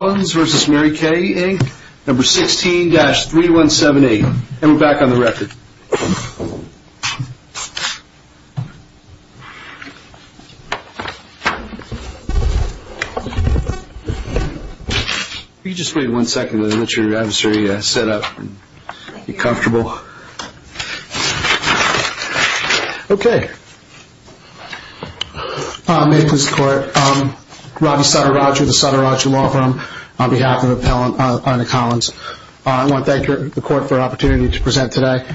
Number 16-3178. And we're back on the record. If you could just wait one second and let your adversary set up and be comfortable. Okay. May it please the court. Robbie Sutter-Rogers of the Sutter-Rogers Law Firm on behalf of Appellant Arne Collins. I want to thank the court for the opportunity to present today.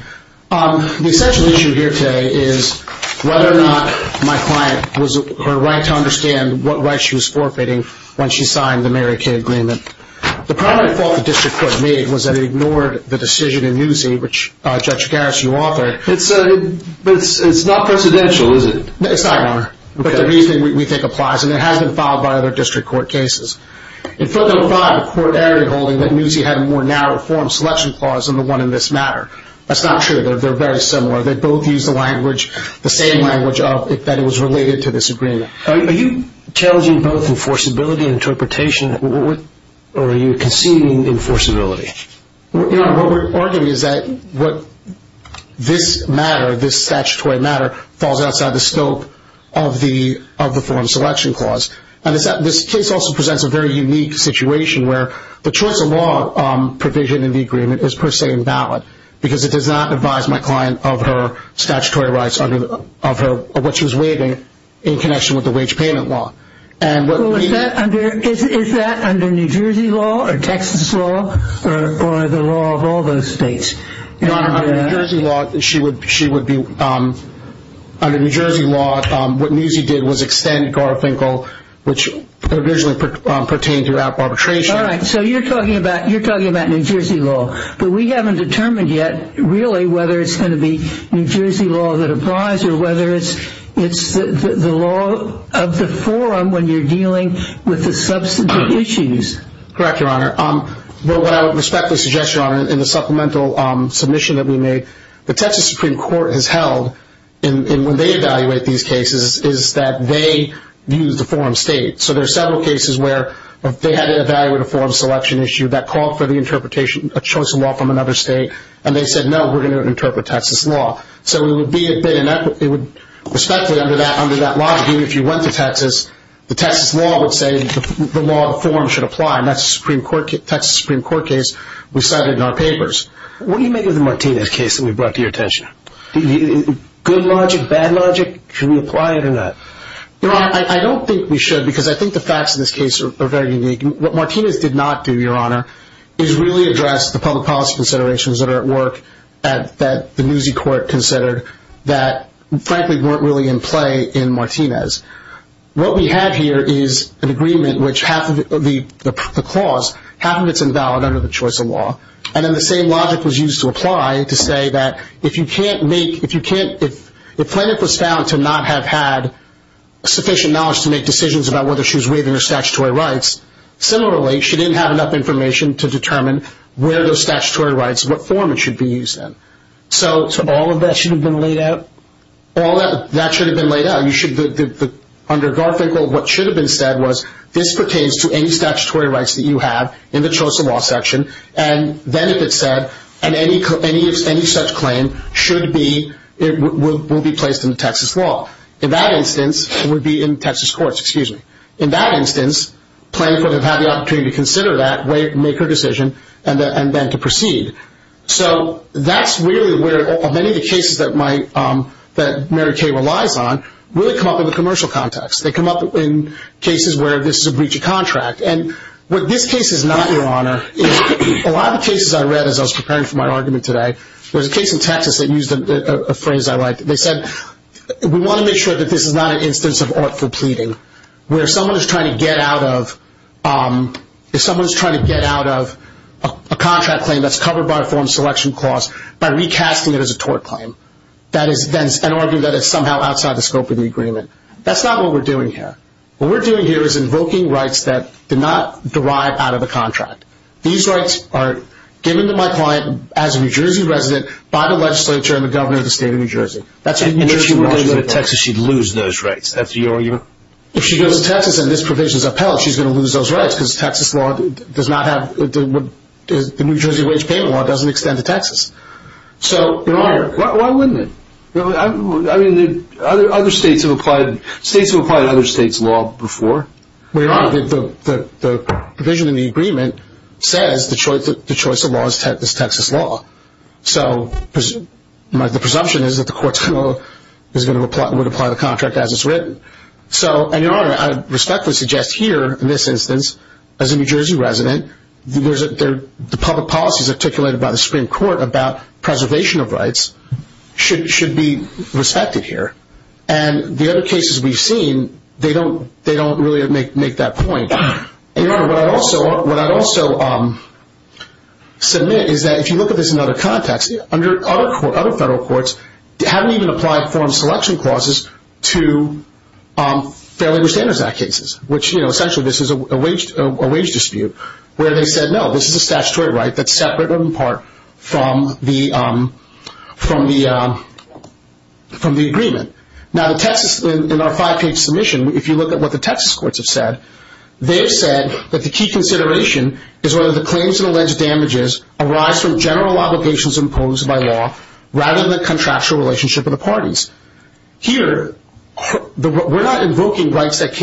The essential issue here today is whether or not my client was, her right to understand what right she was forfeiting when she signed the Mary Kay Agreement. The primary fault the district court made was that it ignored the decision in Newsy, which Judge Garris, you authored. But it's not precedential, is it? It's not, Your Honor. But the reasoning we think applies. And it has been filed by other district court cases. In front number five, the court area holding that Newsy had a more narrow form selection clause than the one in this matter. That's not true. They're very similar. They both use the language, the same language, that it was related to this agreement. Are you challenging both enforceability and interpretation, or are you conceding enforceability? Your Honor, what we're arguing is that this matter, this statutory matter, falls outside the scope of the form selection clause. And this case also presents a very unique situation where the choice of law provision in the agreement is per se invalid because it does not advise my client of her statutory rights, of what she was waiving in connection with the wage payment law. Is that under New Jersey law or Texas law or the law of all those states? Your Honor, under New Jersey law, what Newsy did was extend Garfinkel, which originally pertained to arbitration. All right. So you're talking about New Jersey law. But we haven't determined yet, really, whether it's going to be New Jersey law that applies or whether it's the law of the forum when you're dealing with the substantive issues. Correct, Your Honor. What I would respectfully suggest, Your Honor, in the supplemental submission that we made, the Texas Supreme Court has held, and when they evaluate these cases, is that they use the forum state. So there are several cases where they had to evaluate a forum selection issue that called for the interpretation of choice of law from another state, and they said, no, we're going to interpret Texas law. So we would respectfully, under that logic, even if you went to Texas, the Texas law would say the law of the forum should apply, and that's a Texas Supreme Court case we cited in our papers. What do you make of the Martinez case that we brought to your attention? Good logic, bad logic? Can we apply it or not? Your Honor, I don't think we should because I think the facts of this case are very unique. What Martinez did not do, Your Honor, is really address the public policy considerations that are at work that the Newsy court considered that, frankly, weren't really in play in Martinez. What we have here is an agreement which half of the clause, half of it's invalid under the choice of law, and then the same logic was used to apply to say that if you can't make – if Plaintiff was found to not have had sufficient knowledge to make decisions about whether she was waiving her statutory rights, similarly, she didn't have enough information to determine where those statutory rights, what form it should be used in. So all of that should have been laid out? All of that should have been laid out. Under Garfinkel, what should have been said was this pertains to any statutory rights that you have in the choice of law section, and then if it's said, and any such claim should be – will be placed in the Texas law. In that instance, it would be in Texas courts, excuse me. In that instance, Plaintiff would have had the opportunity to consider that, to make her decision, and then to proceed. So that's really where many of the cases that Mary Kay relies on really come up in the commercial context. They come up in cases where this is a breach of contract. And what this case is not, Your Honor, is a lot of the cases I read as I was preparing for my argument today, there was a case in Texas that used a phrase I liked. They said, we want to make sure that this is not an instance of artful pleading, where someone is trying to get out of a contract claim that's covered by a form selection clause by recasting it as a tort claim. That is an argument that is somehow outside the scope of the agreement. That's not what we're doing here. What we're doing here is invoking rights that did not derive out of the contract. These rights are given to my client as a New Jersey resident by the legislature and the governor of the state of New Jersey. And if she were living in Texas, she'd lose those rights. That's your argument? If she goes to Texas and this provision is upheld, she's going to lose those rights because the New Jersey wage payment law doesn't extend to Texas. Your Honor, why wouldn't it? I mean, states have applied other states' law before. Well, Your Honor, the provision in the agreement says the choice of law is Texas law. The presumption is that the courts would apply the contract as it's written. Your Honor, I respectfully suggest here, in this instance, as a New Jersey resident, the public policies articulated by the Supreme Court about preservation of rights should be respected here. And the other cases we've seen, they don't really make that point. Your Honor, what I'd also submit is that if you look at this in other contexts, other federal courts haven't even applied form selection clauses to Fair Labor Standards Act cases, which, you know, essentially this is a wage dispute, where they said, no, this is a statutory right that's separate in part from the agreement. Now, in our five-page submission, if you look at what the Texas courts have said, they've said that the key consideration is whether the claims and alleged damages arise from general obligations imposed by law rather than the contractual relationship of the parties. Here, we're not invoking rights that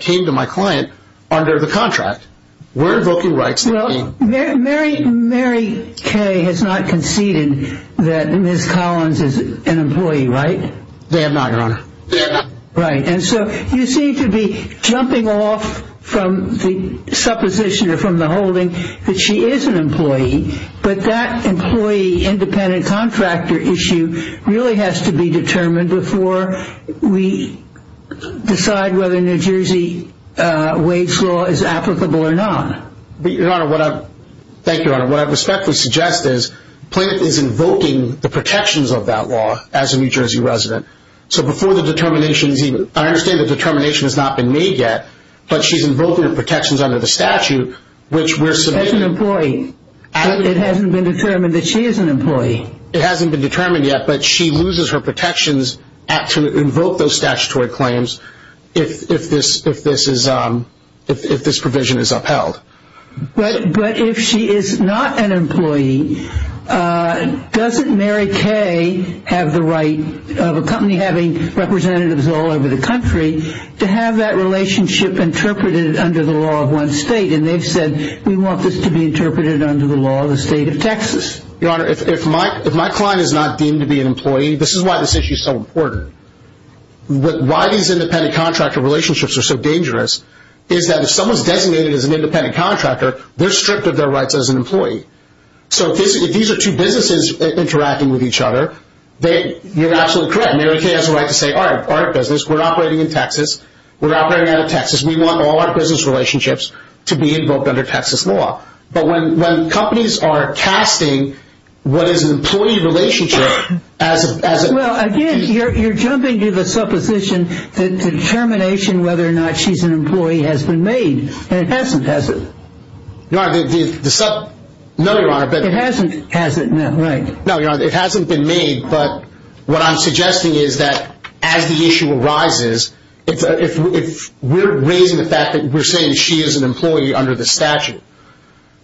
came to my client under the contract. We're invoking rights that came. Well, Mary Kay has not conceded that Ms. Collins is an employee, right? They have not, Your Honor. They have not. Right. And so you seem to be jumping off from the supposition or from the holding that she is an employee, but that employee-independent-contractor issue really has to be determined before we decide whether New Jersey wage law is applicable or not. Thank you, Your Honor. What I respectfully suggest is the plaintiff is invoking the protections of that law as a New Jersey resident. So before the determination is even – I understand the determination has not been made yet, but she's invoking the protections under the statute, which we're submitting. She says an employee. It hasn't been determined that she is an employee. It hasn't been determined yet, but she loses her protections to invoke those statutory claims if this provision is upheld. But if she is not an employee, doesn't Mary Kay have the right of a company having representatives all over the country to have that relationship interpreted under the law of one state? And they've said, we want this to be interpreted under the law of the state of Texas. Your Honor, if my client is not deemed to be an employee, this is why this issue is so important. Why these independent-contractor relationships are so dangerous is that if someone is designated as an independent-contractor, they're stripped of their rights as an employee. So if these are two businesses interacting with each other, you're absolutely correct. Mary Kay has a right to say, all right, our business, we're operating in Texas. We're operating out of Texas. We want all our business relationships to be invoked under Texas law. But when companies are casting what is an employee relationship as a – Well, again, you're jumping to the supposition that determination whether or not she's an employee has been made. And it hasn't, has it? Your Honor, the – no, Your Honor, but – It hasn't, has it? No, right. No, Your Honor, it hasn't been made. But what I'm suggesting is that as the issue arises, if we're raising the fact that we're saying she is an employee under the statute,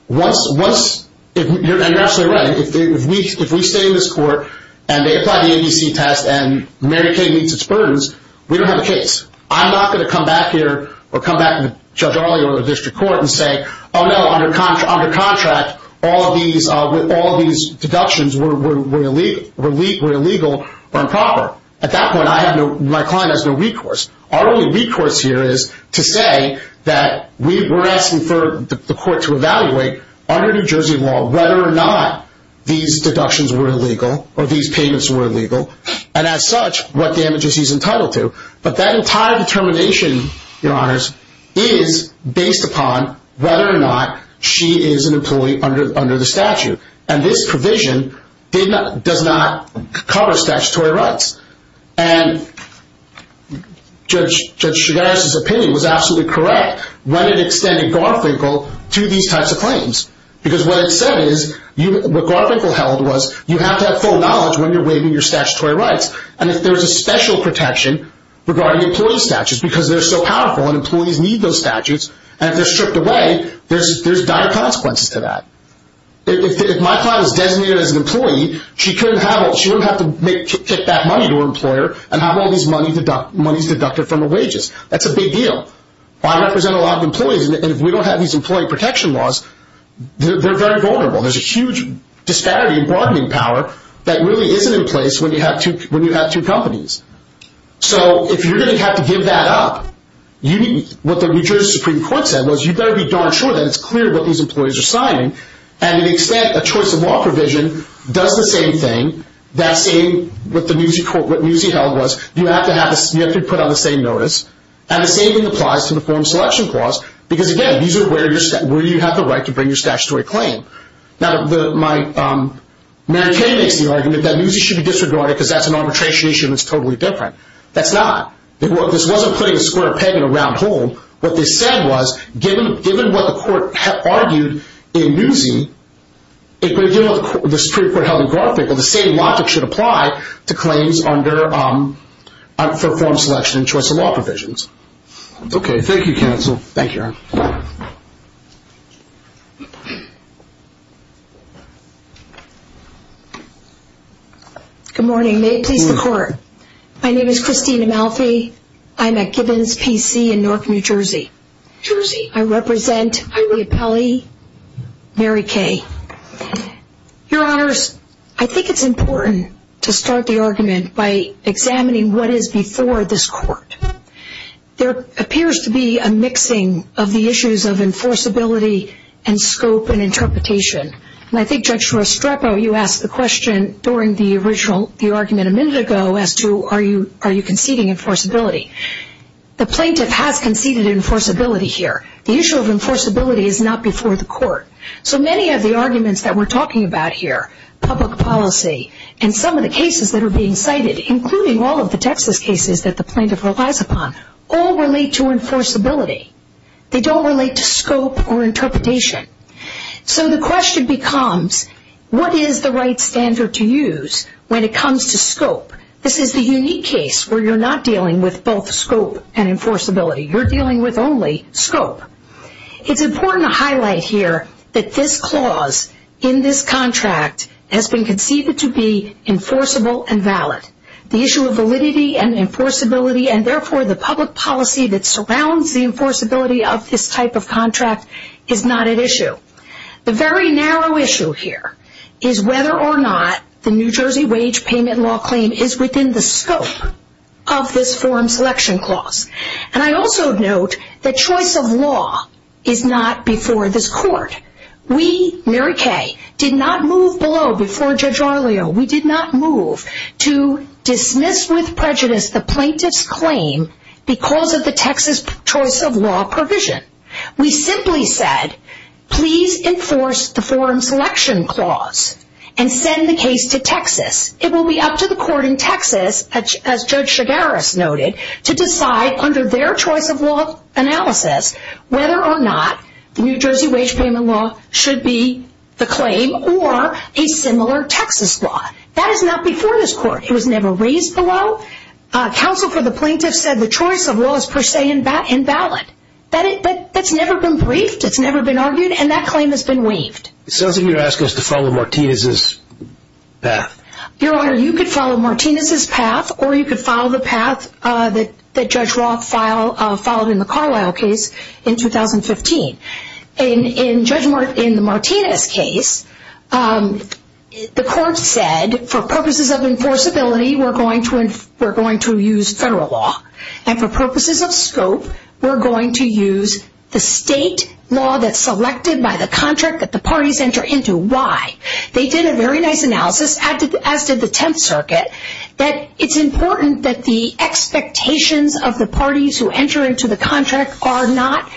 once – and you're absolutely right, if we stay in this court and they apply the ABC test and Mary Kay meets its burdens, we don't have a case. I'm not going to come back here or come back to Judge Arley or the district court and say, oh, no, under contract, all of these deductions were illegal or improper. At that point, I have no – my client has no recourse. Our only recourse here is to say that we're asking for the court to evaluate under New Jersey law whether or not these deductions were illegal or these payments were illegal, and as such, what damages he's entitled to. But that entire determination, Your Honors, is based upon whether or not she is an employee under the statute. And this provision does not cover statutory rights. And Judge Chigares' opinion was absolutely correct when it extended Garfinkel to these types of claims because what it said is – what Garfinkel held was you have to have full knowledge when you're waiving your statutory rights. And if there's a special protection regarding employee statutes because they're so powerful and employees need those statutes and if they're stripped away, there's dire consequences to that. If my client was designated as an employee, she couldn't have – she wouldn't have to kick that money to her employer and have all these monies deducted from her wages. That's a big deal. I represent a lot of employees, and if we don't have these employee protection laws, they're very vulnerable. There's a huge disparity in broadening power that really isn't in place when you have two companies. So if you're going to have to give that up, what the New Jersey Supreme Court said was you better be darn sure that it's clear what these employees are signing. And to the extent a choice of law provision does the same thing, that same – what Newsy held was you have to put on the same notice, and the same thing applies to the Foreign Selection Clause because, again, these are where you have the right to bring your statutory claim. Now, Mary Kay makes the argument that Newsy should be disregarded because that's an arbitration issue and it's totally different. That's not. This wasn't putting a square peg in a round hole. What they said was given what the court argued in Newsy, given what the Supreme Court held in Garfinkel, the same logic should apply to claims under Foreign Selection and choice of law provisions. Okay. Thank you, counsel. Thank you, Aaron. Good morning. May it please the Court. My name is Christina Malfi. I'm at Gibbons PC in Newark, New Jersey. New Jersey. I represent Ilia Pelli, Mary Kay. Your Honors, I think it's important to start the argument by examining what is before this Court. There appears to be a mixing of the issues of enforceability and scope and interpretation. And I think Judge Restrepo, you asked the question during the original – the argument a minute ago as to are you conceding enforceability. The plaintiff has conceded enforceability here. The issue of enforceability is not before the Court. So many of the arguments that we're talking about here, public policy, and some of the cases that are being cited, including all of the Texas cases that the plaintiff relies upon, all relate to enforceability. They don't relate to scope or interpretation. So the question becomes, what is the right standard to use when it comes to scope? This is the unique case where you're not dealing with both scope and enforceability. You're dealing with only scope. It's important to highlight here that this clause in this contract has been conceived to be enforceable and valid. The issue of validity and enforceability, and therefore the public policy that surrounds the enforceability of this type of contract, is not at issue. The very narrow issue here is whether or not the New Jersey wage payment law claim is within the scope of this form selection clause. And I also note that choice of law is not before this Court. We, Mary Kay, did not move below before Judge Arleo. We did not move to dismiss with prejudice the plaintiff's claim because of the Texas choice of law provision. We simply said, please enforce the form selection clause and send the case to Texas. It will be up to the court in Texas, as Judge Shigaris noted, to decide under their choice of law analysis whether or not the New Jersey wage payment law should be the claim or a similar Texas law. That is not before this Court. It was never raised below. Counsel for the plaintiff said the choice of law is per se invalid. That's never been briefed, it's never been argued, and that claim has been waived. It sounds like you're asking us to follow Martinez's path. Your Honor, you could follow Martinez's path, or you could follow the path that Judge Roth followed in the Carlisle case in 2015. In the Martinez case, the court said, for purposes of enforceability, we're going to use federal law, and for purposes of scope, we're going to use the state law that's selected by the contract that the parties enter into. Why? They did a very nice analysis, as did the Tenth Circuit, that it's important that the expectations of the parties who enter into the contract are not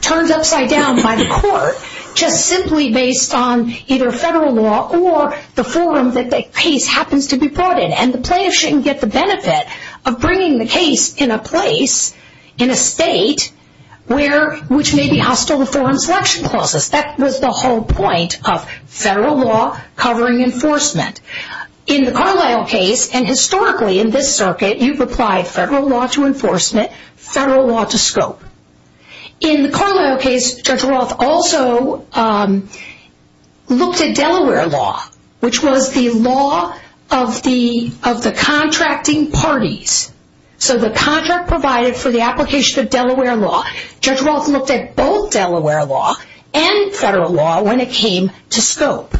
turned upside down by the court, just simply based on either federal law or the forum that the case happens to be brought in. And the plaintiff shouldn't get the benefit of bringing the case in a place, in a state, which may be hostile to forum selection clauses. That was the whole point of federal law covering enforcement. In the Carlisle case, and historically in this circuit, you've applied federal law to enforcement, federal law to scope. In the Carlisle case, Judge Roth also looked at Delaware law, which was the law of the contracting parties. So the contract provided for the application of Delaware law, Judge Roth looked at both Delaware law and federal law when it came to scope.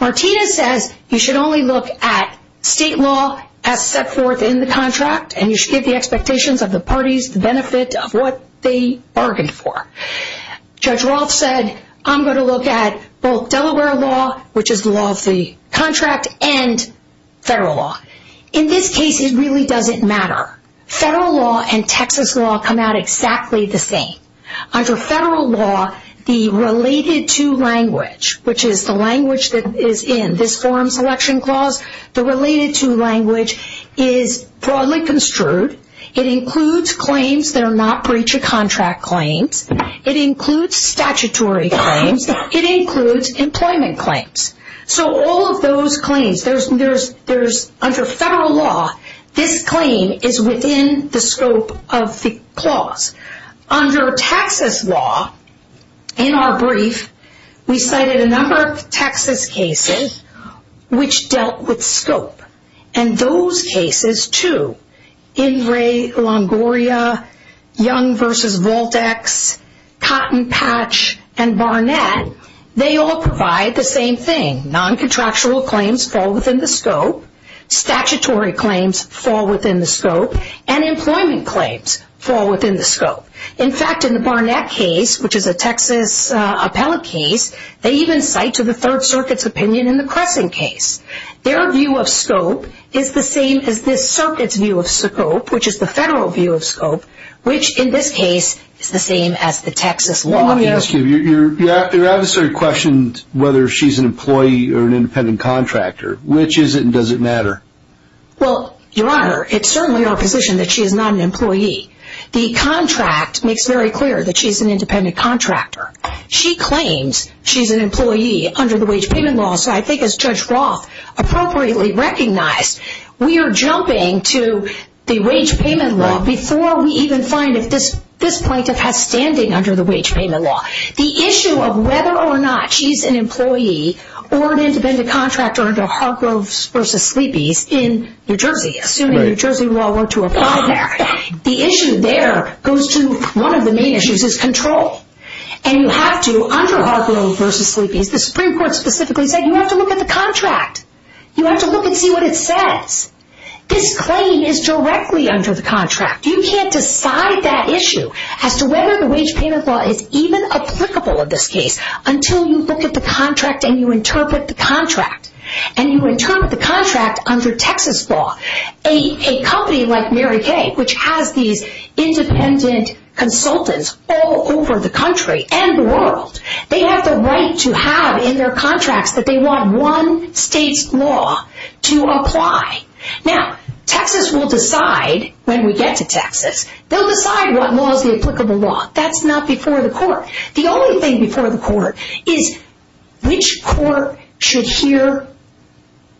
Martinez says you should only look at state law as set forth in the contract, and you should give the expectations of the parties the benefit of what they bargained for. Judge Roth said, I'm going to look at both Delaware law, which is the law of the contract, and federal law. In this case, it really doesn't matter. Federal law and Texas law come out exactly the same. Under federal law, the related to language, which is the language that is in this forum selection clause, the related to language is broadly construed. It includes claims that are not breach of contract claims. It includes statutory claims. It includes employment claims. So all of those claims, under federal law, this claim is within the scope of the clause. Under Texas law, in our brief, we cited a number of Texas cases which dealt with scope. And those cases, too, Ingray-Longoria, Young v. Voltex, Cotton Patch, and Barnett, they all provide the same thing. Non-contractual claims fall within the scope. Statutory claims fall within the scope. And employment claims fall within the scope. In fact, in the Barnett case, which is a Texas appellate case, they even cite to the Third Circuit's opinion in the Crescent case. Their view of scope is the same as this circuit's view of scope, which is the federal view of scope, which, in this case, is the same as the Texas law. Let me ask you, your adversary questioned whether she's an employee or an independent contractor. Which is it, and does it matter? Well, your Honor, it's certainly our position that she is not an employee. The contract makes very clear that she's an independent contractor. She claims she's an employee under the wage payment law, so I think as Judge Roth appropriately recognized, we are jumping to the wage payment law before we even find if this plaintiff has standing under the wage payment law. The issue of whether or not she's an employee or an independent contractor under Hargroves v. Sleepy's in New Jersey, assuming New Jersey law were to apply there, the issue there goes to one of the main issues, is control. And you have to, under Hargroves v. Sleepy's, the Supreme Court specifically said you have to look at the contract. You have to look and see what it says. This claim is directly under the contract. You can't decide that issue as to whether the wage payment law is even applicable in this case until you look at the contract and you interpret the contract. And you interpret the contract under Texas law. A company like Mary Kay, which has these independent consultants all over the country and the world, they have the right to have in their contracts that they want one state's law to apply. Now, Texas will decide when we get to Texas, they'll decide what law is the applicable law. That's not before the court. The only thing before the court is which court should hear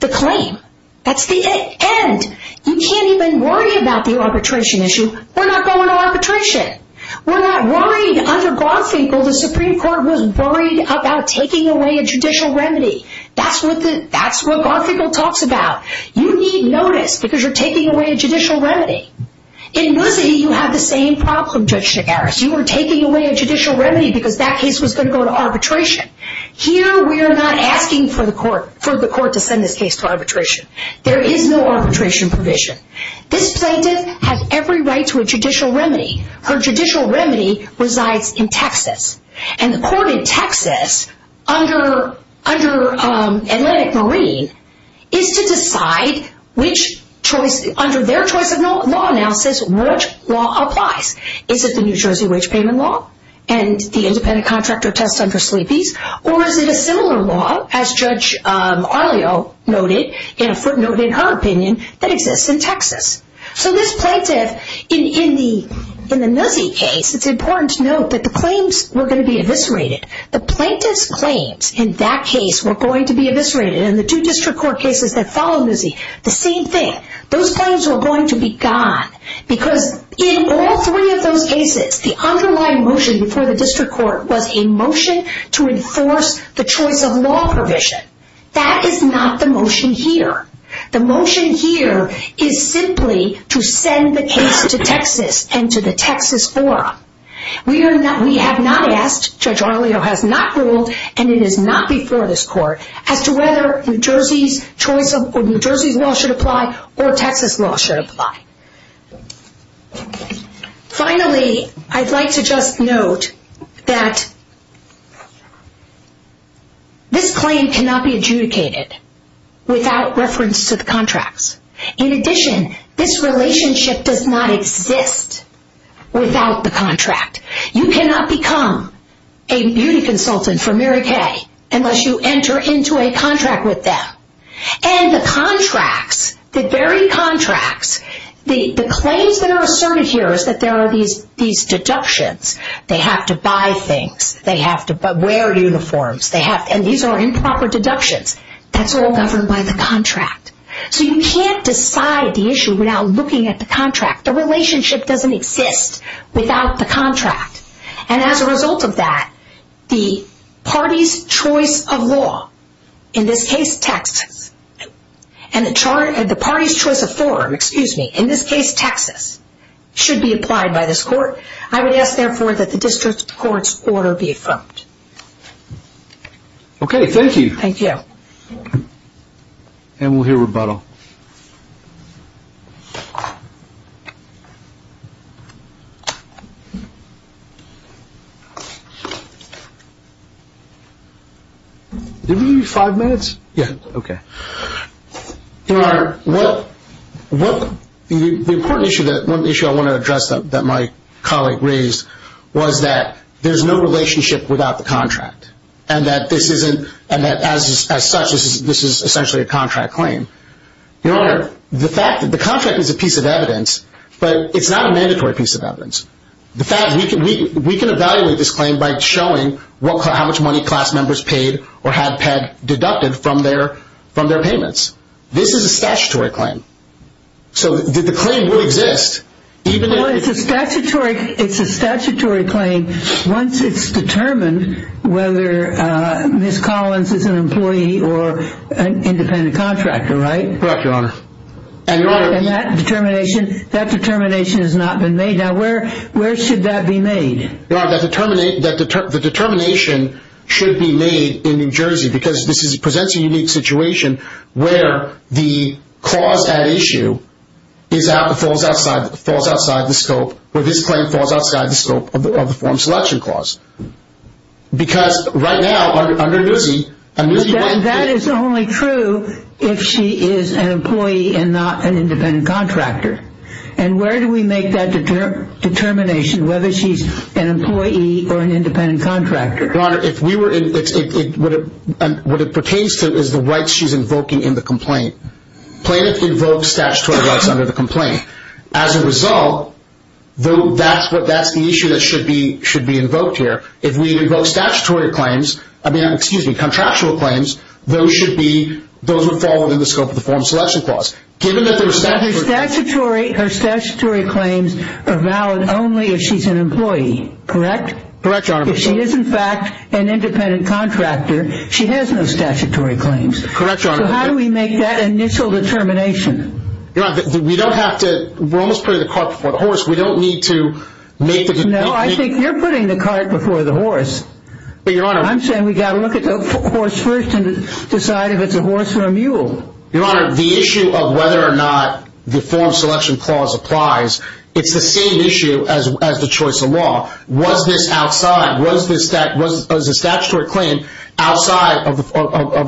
the claim. That's the end. You can't even worry about the arbitration issue. We're not going to arbitration. We're not worried under Garfinkel. The Supreme Court was worried about taking away a judicial remedy. That's what Garfinkel talks about. You need notice because you're taking away a judicial remedy. In Bussey, you have the same problem, Judge Nagaris. You were taking away a judicial remedy because that case was going to go to arbitration. Here, we are not asking for the court to send this case to arbitration. There is no arbitration provision. This plaintiff has every right to a judicial remedy. Her judicial remedy resides in Texas. The court in Texas under Atlantic Marine is to decide under their choice of law analysis which law applies. Is it the New Jersey wage payment law and the independent contractor test under Sleepy's? Or is it a similar law as Judge Arlio noted in a footnote in her opinion that exists in Texas? This plaintiff, in the Nussie case, it's important to note that the claims were going to be eviscerated. The plaintiff's claims in that case were going to be eviscerated. In the two district court cases that follow Nussie, the same thing. Those claims were going to be gone because in all three of those cases, the underlying motion before the district court was a motion to enforce the choice of law provision. That is not the motion here. The motion here is simply to send the case to Texas and to the Texas forum. We have not asked, Judge Arlio has not ruled, and it is not before this court, as to whether New Jersey's law should apply or Texas law should apply. Finally, I'd like to just note that this claim cannot be adjudicated without reference to the contracts. In addition, this relationship does not exist without the contract. You cannot become a beauty consultant for Mary Kay unless you enter into a contract with them. The very contracts, the claims that are asserted here is that there are these deductions. They have to buy things, they have to wear uniforms, and these are improper deductions. That's all governed by the contract. You can't decide the issue without looking at the contract. The relationship doesn't exist without the contract. As a result of that, the party's choice of law, in this case Texas, and the party's choice of forum, in this case Texas, should be applied by this court. I would ask, therefore, that the district court's order be affirmed. Okay, thank you. Thank you. And we'll hear rebuttal. Do we have five minutes? Yeah. Okay. Your Honor, the important issue that I want to address that my colleague raised was that there's no relationship without the contract and that as such this is essentially a contract claim. Your Honor, the fact that the contract is a piece of evidence, but it's not a mandatory piece of evidence. The fact that we can evaluate this claim by showing how much money class members paid or had deducted from their payments. This is a statutory claim. So the claim will exist. Well, it's a statutory claim once it's determined whether Ms. Collins is an employee or an independent contractor, right? Correct, Your Honor. And that determination has not been made. Now, where should that be made? Your Honor, the determination should be made in New Jersey because this presents a unique situation where the clause at issue falls outside the scope, where this claim falls outside the scope of the form selection clause. Because right now under Newsy, a Newsy- That is only true if she is an employee and not an independent contractor. And where do we make that determination, whether she's an employee or an independent contractor? Your Honor, what it pertains to is the rights she's invoking in the complaint. Plaintiff invokes statutory rights under the complaint. As a result, that's the issue that should be invoked here. If we invoke contractual claims, those would fall within the scope of the form selection clause. But her statutory claims are valid only if she's an employee, correct? Correct, Your Honor. If she is, in fact, an independent contractor, she has no statutory claims. Correct, Your Honor. So how do we make that initial determination? Your Honor, we don't have to- we're almost putting the cart before the horse. We don't need to make the- No, I think you're putting the cart before the horse. But, Your Honor- I'm saying we've got to look at the horse first and decide if it's a horse or a mule. Your Honor, the issue of whether or not the form selection clause applies, it's the same issue as the choice of law. Was this outside? Was the statutory claim outside of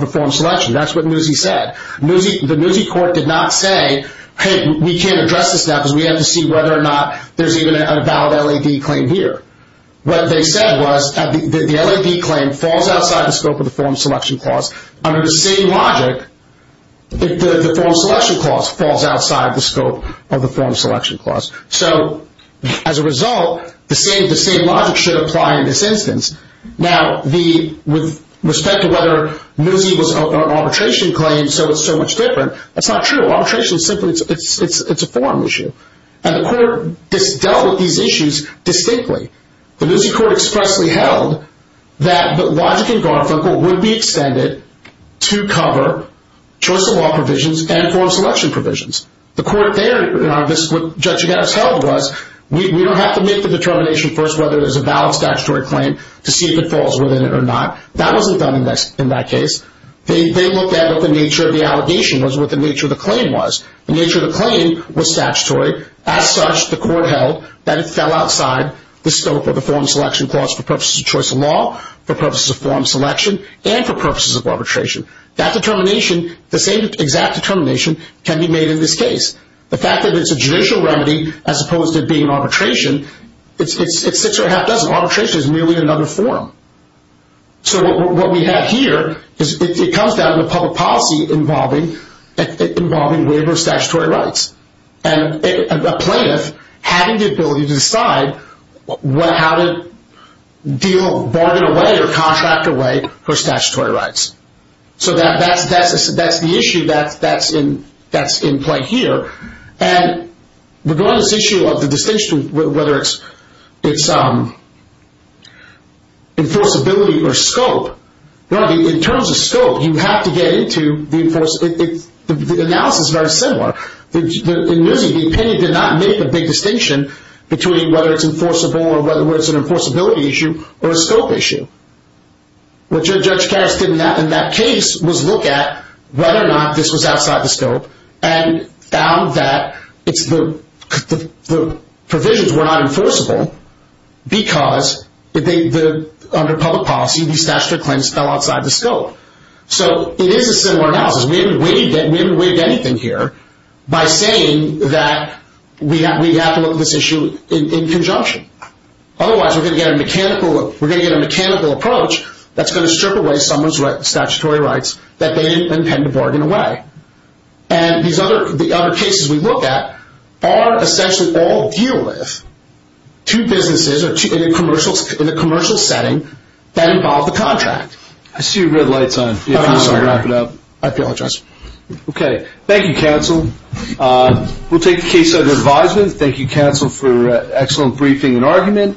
the form selection? That's what Muzzi said. The Muzzi court did not say, hey, we can't address this now because we have to see whether or not there's even a valid LAD claim here. What they said was the LAD claim falls outside the scope of the form selection clause. Under the same logic, the form selection clause falls outside the scope of the form selection clause. So, as a result, the same logic should apply in this instance. Now, with respect to whether Muzzi was an arbitration claim, so it's so much different, that's not true. Arbitration is simply- it's a form issue. And the court dealt with these issues distinctly. The Muzzi court expressly held that the logic in Garfinkel would be extended to cover choice of law provisions and form selection provisions. The court there, in our- this is what Judge Gattis held was we don't have to make the determination first whether there's a valid statutory claim to see if it falls within it or not. That wasn't done in that case. They looked at what the nature of the allegation was, what the nature of the claim was. The nature of the claim was statutory. As such, the court held that it fell outside the scope of the form selection clause for purposes of choice of law, for purposes of form selection, and for purposes of arbitration. That determination, the same exact determination, can be made in this case. The fact that it's a judicial remedy as opposed to it being an arbitration, it's six or a half dozen. Arbitration is merely another form. So what we have here is it comes down to public policy involving waiver of statutory rights. And a plaintiff having the ability to decide how to bargain away or contract away her statutory rights. So that's the issue that's in play here. And regarding this issue of the distinction of whether it's enforceability or scope, in terms of scope, you have to get into the enforcement. The analysis is very similar. In Newsy, the opinion did not make a big distinction between whether it's enforceable or whether it's an enforceability issue or a scope issue. What Judge Karras did in that case was look at whether or not this was outside the scope and found that the provisions were not enforceable because under public policy, the statutory claims fell outside the scope. So it is a similar analysis. We haven't waived anything here by saying that we have to look at this issue in conjunction. Otherwise, we're going to get a mechanical approach that's going to strip away someone's statutory rights that they didn't intend to bargain away. And the other cases we look at are essentially all deal with two businesses in a commercial setting that involve the contract. I see your red light's on. I'm sorry. Wrap it up. I apologize. Okay. Thank you, counsel. We'll take the case under advisement. Thank you, counsel, for an excellent briefing and argument.